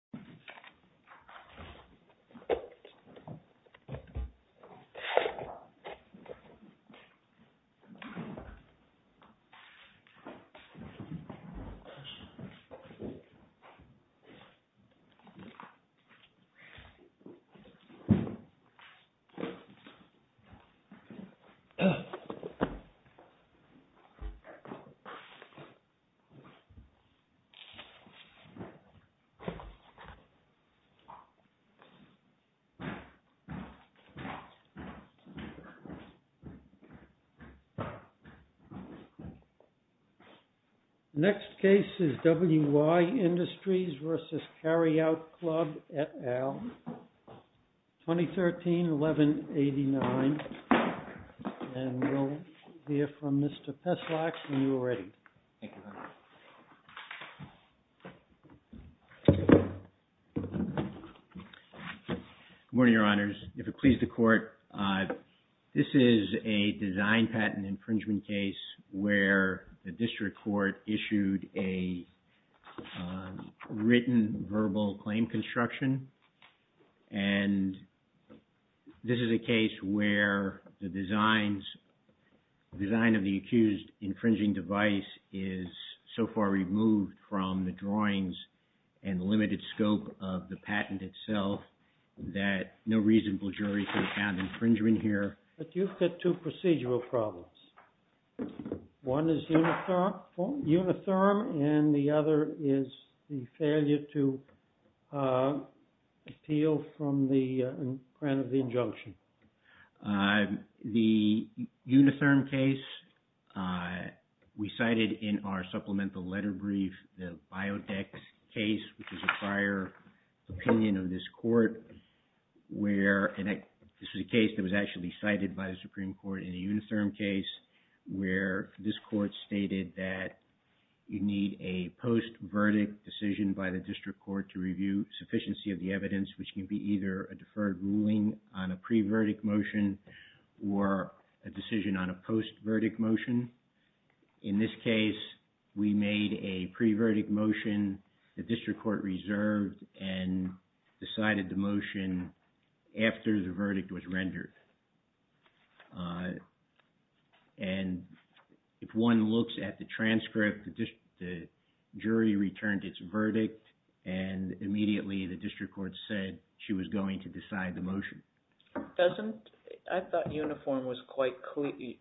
et al., 2013-11-89. And we'll hear from Mr. Peslak, and you are ready. Good morning, Your Honors. If it pleases the Court, this is a design patent infringement case where the district court issued a written verbal claim construction, and this is a case where the design of the accused infringing device is so far removed from the drawings and limited scope of the patent itself that no reasonable jury could have found infringement here. But you've got two procedural problems. One is unitherm, and the other is the failure to appeal from the grant of the injunction. The unitherm case, we cited in our supplemental letter brief, the Biodex case, which is a prior opinion of this Court, where this is a case that was actually cited by the Supreme Court in the unitherm case, where this Court stated that you need a post-verdict decision by the district court to review sufficiency of the evidence, which can be either a deferred ruling on a pre-verdict motion or a decision on a post-verdict motion. In this case, we made a pre-verdict motion the district court reserved and decided the motion after the verdict was rendered. And if one looks at the transcript, the jury returned its verdict, and immediately the district court said she was going to decide the motion. I thought unitherm was quite clear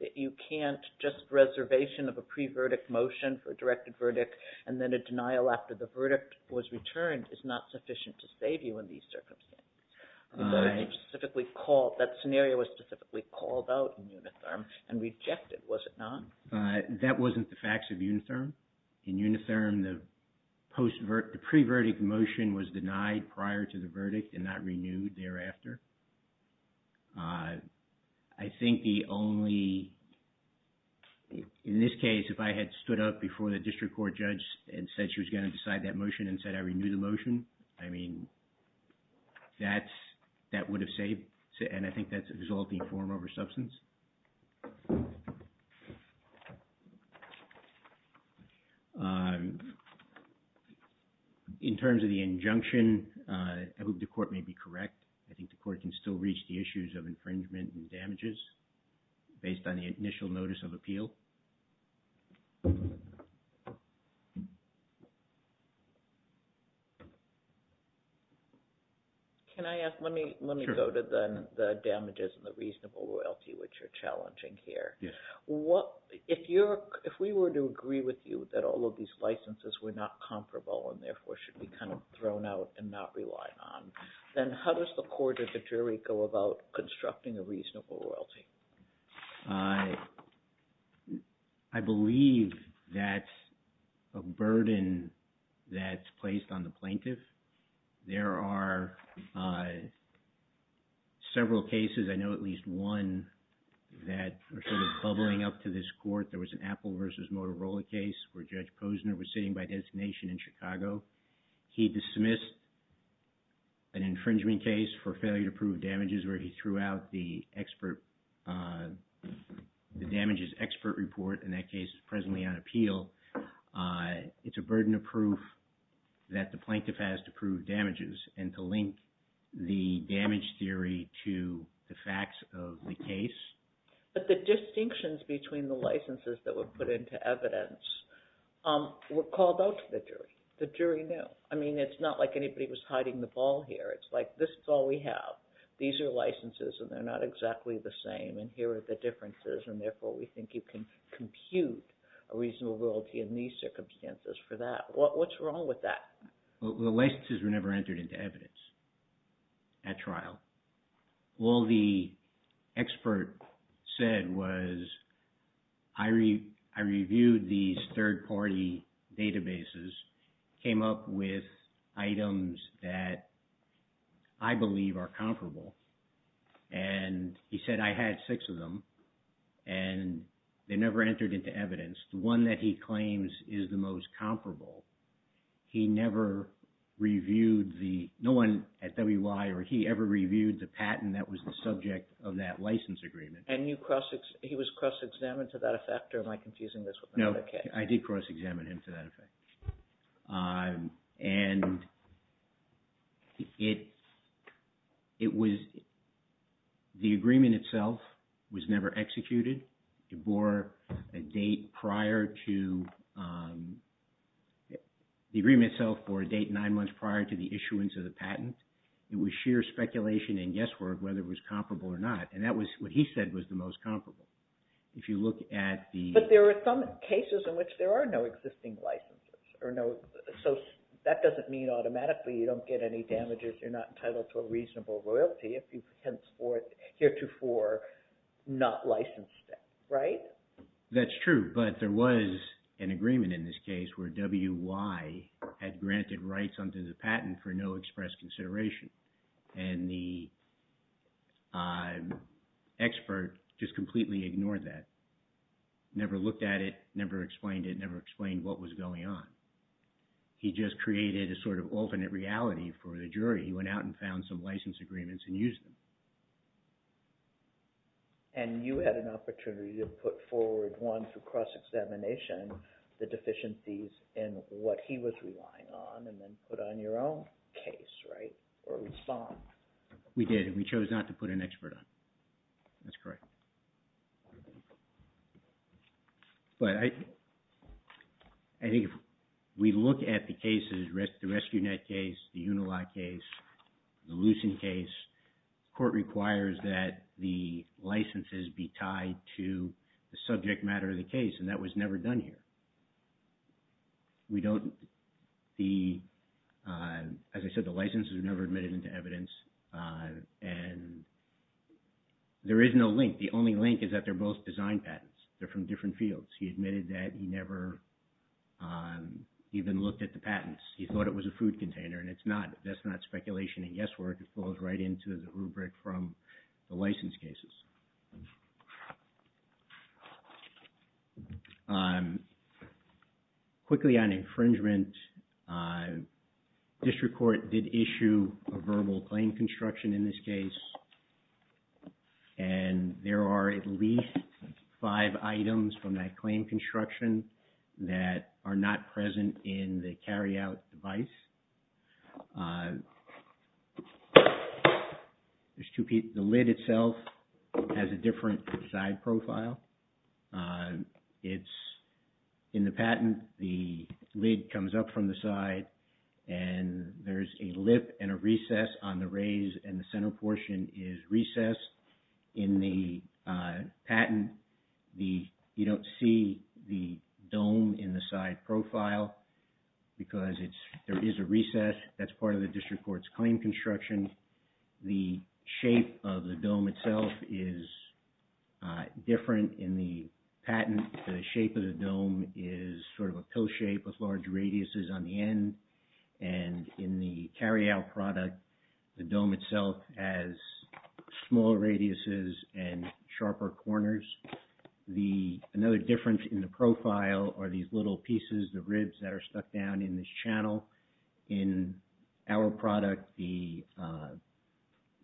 that you can't just make a reservation of a pre-verdict motion for a directed verdict, and then a denial after the verdict was returned is not sufficient to save you in these circumstances. That scenario was specifically called out in unitherm and rejected, was it not? That wasn't the facts of unitherm. In unitherm, the pre-verdict motion was denied prior to the verdict and not renewed thereafter. I think the only, in this case, if I had stood up before the district court judge and said she was going to decide that motion and said I renew the motion, I mean, that would have saved, and I think that's exalting form over substance. In terms of the district court decision, I think the court can still reach the issues of infringement and damages based on the initial notice of appeal. Can I ask, let me go to the damages and the reasonable loyalty which are challenging here. If we were to agree with you that all of these licenses were not comparable and therefore should be kind of thrown out and not relied on, then how does the court or the jury go about constructing a reasonable loyalty? I believe that a burden that's placed on the plaintiff, there are several cases, I know at least one that are sort of bubbling up to this court. There was an Apple versus Motorola case where Judge missed an infringement case for failure to prove damages where he threw out the damages expert report, and that case is presently on appeal. It's a burden of proof that the plaintiff has to prove damages and to link the damage theory to the facts of the case. But the distinctions between the licenses that were put into evidence were called out to the jury. The jury knew. I mean, it's not like anybody was hiding the ball here. It's like, this is all we have. These are licenses and they're not exactly the same, and here are the differences, and therefore we think you can compute a reasonable loyalty in these circumstances for that. What's wrong with that? The licenses were never entered into evidence at trial. All the expert said was, I reviewed these third-party databases, came up with items that I believe are comparable, and he said, I had six of them, and they never entered into evidence. The one that he claims is the most comparable, he never reviewed the, no one at WI or he ever reviewed the patent that was the subject of that license agreement. And he was cross-examined to that effect, or am I confusing this? No, I did cross-examine him to that effect. And it was, the agreement itself was never executed. It bore a date prior to, the agreement itself bore a date nine months prior to the issuance of the patent. It was sheer speculation and guesswork whether it was comparable or not, and that was what he said was the most comparable. If you look at the... There are no existing licenses or no, so that doesn't mean automatically you don't get any damages, you're not entitled to a reasonable loyalty if you henceforth heretofore not license that, right? That's true, but there was an agreement in this case where WI had granted rights under the patent for no express consideration. And the expert just completely ignored that, never looked at it, never explained it, never explained what was going on. He just created a sort of alternate reality for the jury. He went out and found some license agreements and used them. And you had an opportunity to put forward one for cross-examination the deficiencies in what he was relying on and then put on your own case, right? Or respond. We did, we chose not to put an expert on. That's correct. But I think if we look at the cases, the Rescue Net case, the Unilat case, the Lucent case, court requires that the licenses be tied to the subject matter of the case, and that was never done here. We don't... As I said, the licenses were never admitted into evidence and there is no link. The only link is that they're both design patents. They're from different fields. He admitted that he never even looked at the patents. He thought it was a food container and it's not. That's not speculation and guesswork. It falls right into the rubric from the license cases. Quickly on infringement, district court did issue a verbal claim construction in this case. And there are at least five items from that claim construction that are not present in the carryout device. There's two pieces. The lid itself has a different side profile. In the patent, the lid comes up from the side and there's a lip and a recess on the raise and the center portion is recessed. In the patent, you don't see the dome in the side profile because there is a recess. That's part of the district court's claim construction. The shape of the dome itself is different in the patent. The shape of the dome is sort of a pill shape with large radiuses on the end. And in the carryout product, the dome itself has small radiuses and sharper corners. Another difference in the profile are these little pieces, the ribs that are stuck down in this channel. In our product, the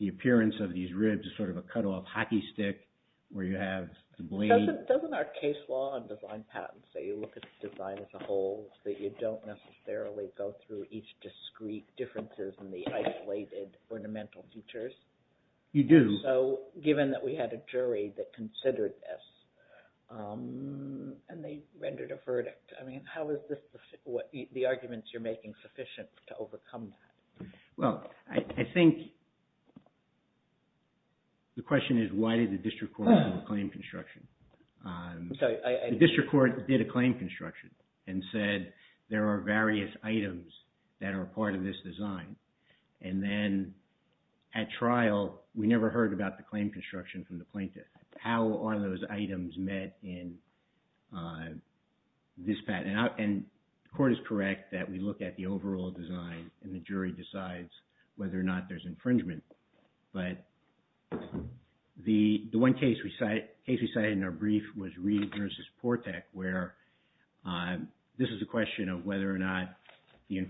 appearance of these ribs is sort of a cutoff hockey stick where you have the blade. Doesn't our case law and design patents say you look at the design as a whole so you don't necessarily go through each discrete differences in the isolated ornamental features? You do. So given that we had a jury that considered this and they rendered a verdict, how is the arguments you're making sufficient to overcome that? Well, I think the question is why did the district court do the claim construction? The district court did a claim construction and said there are various items that are part of this design. And then at trial, we never heard about the claim construction from the plaintiff. How are those items met in this patent? And the court is correct that we look at the overall design and the jury decides whether or not there's infringement. But the one case we cited in our brief was Reed v. Portek where this is a question of whether or not the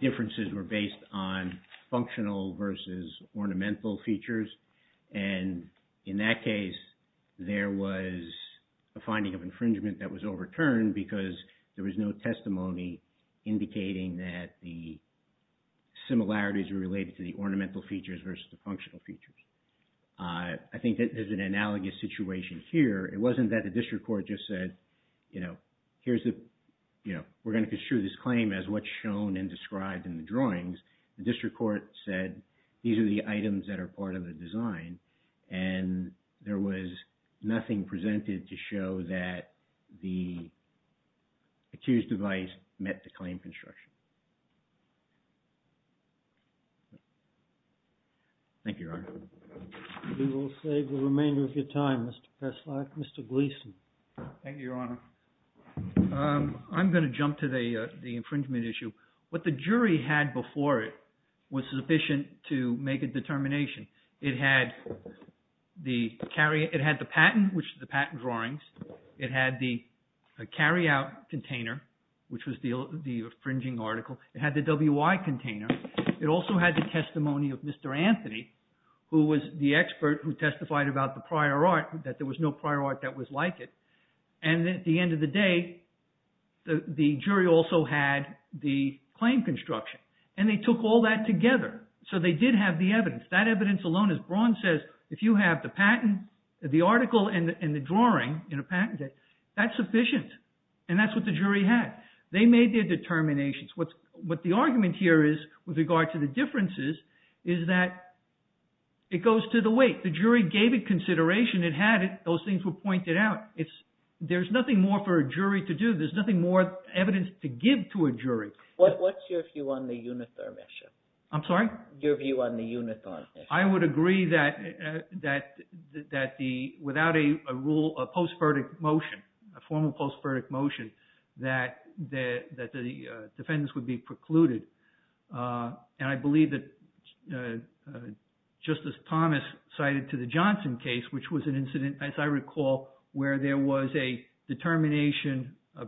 inferences were on functional versus ornamental features. And in that case, there was a finding of infringement that was overturned because there was no testimony indicating that the similarities were related to the ornamental features versus the functional features. I think there's an analogous situation here. It wasn't that the district court just said, you know, here's the, you know, we're going to construe this claim as what's shown and described in the drawings. The district court said these are the items that are part of the design and there was nothing presented to show that the accused device met the claim construction. Thank you, Your Honor. We will save the remainder of your time, Mr. Kessler. Mr. Gleason. Thank you, Your Honor. I'm going to jump to the infringement issue. What the jury had before it was sufficient to make a determination. It had the patent, which is the patent drawings. It had the carryout container, which was the infringing article. It had the WI container. It also had the testimony of Mr. Anthony, who was the expert who testified about the prior art, that there was no prior art that was like it. And at the end of the day, the jury also had the claim construction. And they took all that together. So they did have the evidence. That evidence alone, as Braun says, if you have the patent, the article and the drawing in a patent, that's sufficient. And that's what the jury had. They made their determinations. What the argument here is with regard to the differences is that it goes to the jury gave it consideration. It had it. Those things were pointed out. It's there's nothing more for a jury to do. There's nothing more evidence to give to a jury. What's your view on the Unitherm issue? I'm sorry? Your view on the Unitherm issue? I would agree that that that the without a rule, a post-verdict motion, a formal post-verdict motion, that that the defendants would be precluded. And I believe that Justice Thomas cited to the Johnson case, which was an incident, as I recall, where there was a determination, a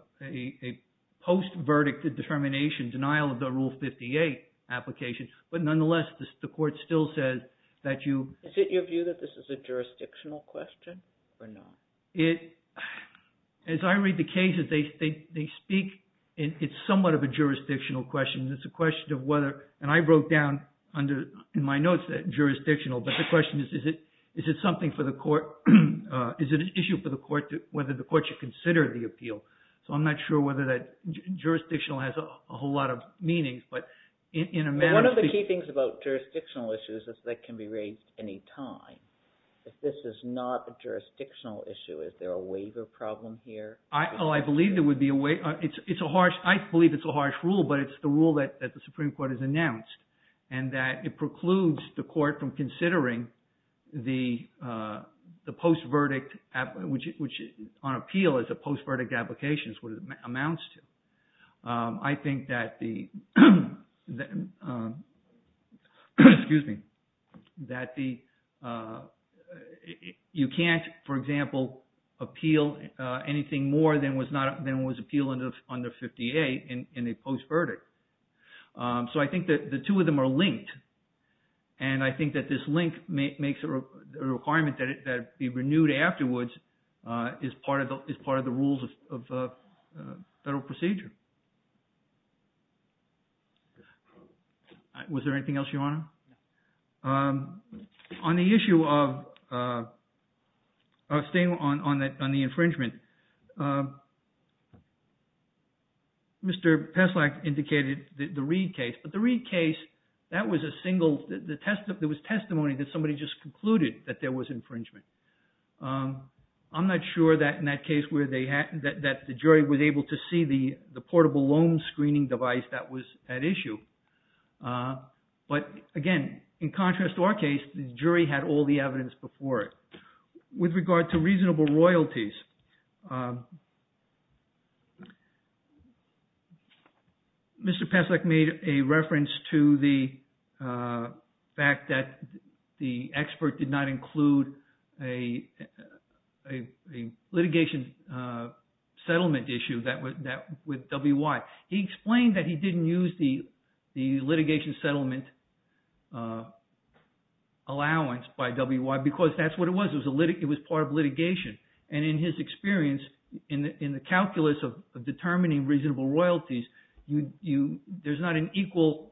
post-verdict determination, denial of the Rule 58 application. But nonetheless, the court still says that you... Is it your view that this is a jurisdictional question or not? It, as I read the cases, they speak, it's somewhat of a jurisdictional question. It's a question of whether, and I wrote down under in my notes that jurisdictional. But the question is, is it something for the court? Is it an issue for the court, whether the court should consider the appeal? So I'm not sure whether that jurisdictional has a whole lot of meaning, but in a manner... One of the key things about jurisdictional issues is that can be raised any time. If this is not a jurisdictional issue, is there a waiver problem here? Oh, I believe there would be a waiver. It's a harsh, I believe it's a harsh rule, but it's the rule that the Supreme Court has announced, and that it precludes the court from considering the post-verdict, which on appeal is a post-verdict application, is what it amounts to. I think that the, excuse me, that the, you can't, for example, appeal anything more than was not, than was appeal under 58 in a post-verdict. So I think that the two of them are linked. And I think that this link makes a requirement that be renewed afterwards is part of the rules of federal procedure. Was there anything else, Your Honor? On the issue of staying on the infringement, Mr. Peslak indicated the Reed case, but the Reed case, that was a single, there was testimony that somebody just concluded that there was infringement. I'm not sure that in that case where they had, that the jury was able to see the portable loan screening device that was at issue. But again, in contrast to our case, the jury had all the evidence before it. With regard to reasonable royalties, Mr. Peslak made a reference to the fact that the expert did not include a litigation settlement issue that with W.Y. He explained that he didn't use the litigation settlement allowance by W.Y. because that's what it was. It was part of litigation. And in his experience, in the calculus of determining reasonable royalties, there's not an equal.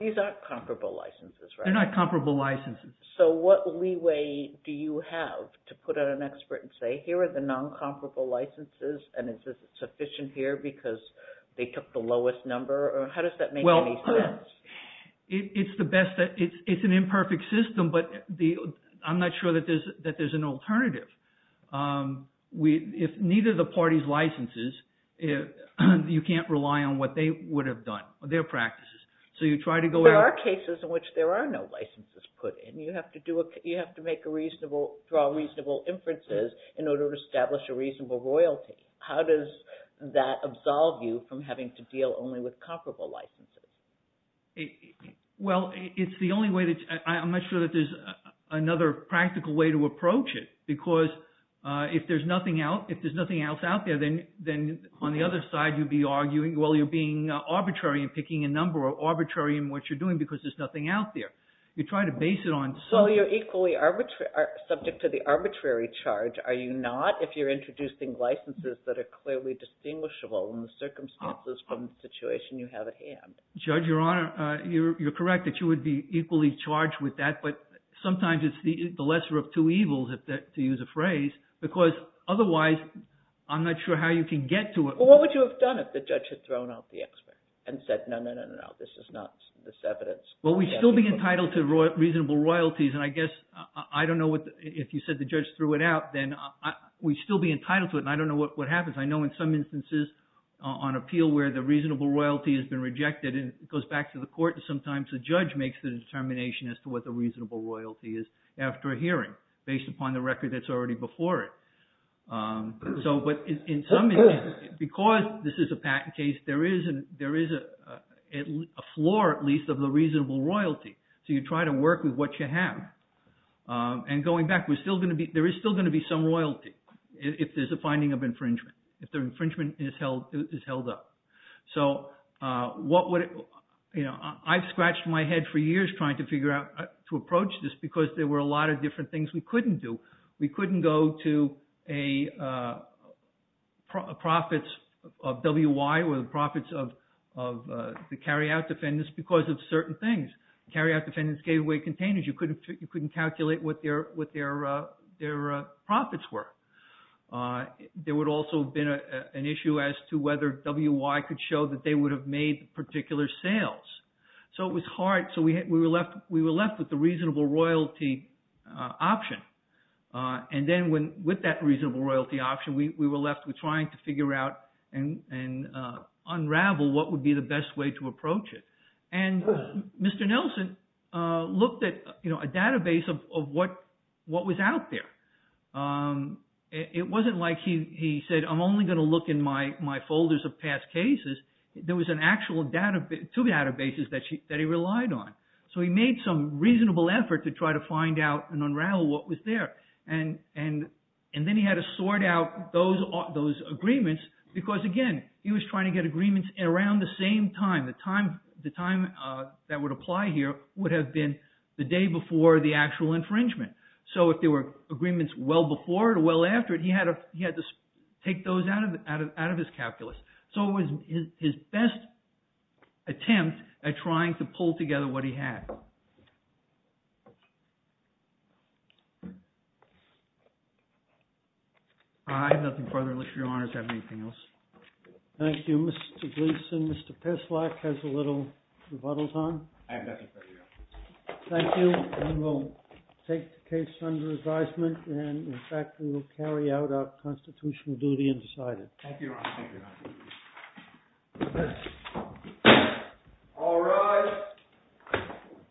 These are comparable licenses, right? They're not comparable licenses. So what leeway do you have to put out an expert and say, here are the non-comparable licenses, and is it sufficient here because they took the lowest number? Or how does that make any sense? Well, it's the best, it's an imperfect system, but I'm not sure that there's an alternative. If neither of the parties licenses, you can't rely on what they would have done, their practices. So you try to go... There are cases in which there are no licenses put in. You have to make a reasonable, draw reasonable inferences in order to establish a reasonable royalty. How does that absolve you from having to deal only with comparable licenses? Well, it's the only way that... I'm not sure that there's another practical way to approach it, because if there's nothing else out there, then on the other side, you'd be arguing, well, you're being arbitrary in picking a number or arbitrary in what you're doing because there's nothing out there. You try to base it on... Well, you're equally subject to the arbitrary charge, are you not, if you're introducing licenses that are clearly distinguishable in the circumstances from the situation you have at hand? Judge, you're correct that you would be equally charged with that, but sometimes it's the lesser of two evils, to use a phrase, because otherwise, I'm not sure how you can get to it. Well, what would you have done if the judge had thrown out the expert and said, no, no, no, no, no, this is not this evidence? Well, we'd still be entitled to reasonable royalties, and I guess, I don't know if you said the judge threw it out, then we'd still be entitled to it, and I don't know what happens. I know in some instances on appeal where the reasonable royalty has been rejected, and it goes back to the court, and sometimes the judge makes the determination as to what the reasonable royalty is after a hearing, based upon the record that's already before it. So, but in some instances, because this is a patent case, there is a floor, at least, of the reasonable royalty, so you try to work with what you have, and going back, there is still going to be some royalty, if there's a finding of infringement, if the infringement is held up. So, I've scratched my head for years trying to figure out, to approach this, because there were a lot of different things we couldn't do. We couldn't go to a profits of WI, or the profits of the carryout defendants, because of certain things. Carryout defendants gave away containers. You couldn't calculate what their profits were. There would also have been an issue as to whether WI could show that they would have made particular sales. So, it was hard. So, we were left with the reasonable royalty option. And then, with that reasonable royalty option, we were left with trying to figure out and unravel what would be the best way to approach it. And Mr. Nelson looked at a database of what was out there. It wasn't like he said, I'm only going to look in my folders of past cases. There was an actual database, two databases that he relied on. So, he made some reasonable effort to try to find out and unravel what was there. And then, he had to sort out those agreements, because again, he was trying to get agreements around the same time. The time that would apply here would have been the day before the actual infringement. So, if there were agreements well before or well after it, he had to take those out of his calculus. So, it was his best attempt at trying to pull together what he had. I have nothing further to list, Your Honor. Does that have anything else? Thank you, Mr. Gleeson. Mr. Pislak has a little rebuttals on. Thank you. We will take the case under advisement. And in fact, we will carry out our constitutional duty and decide it. Thank you, Your Honor. All rise.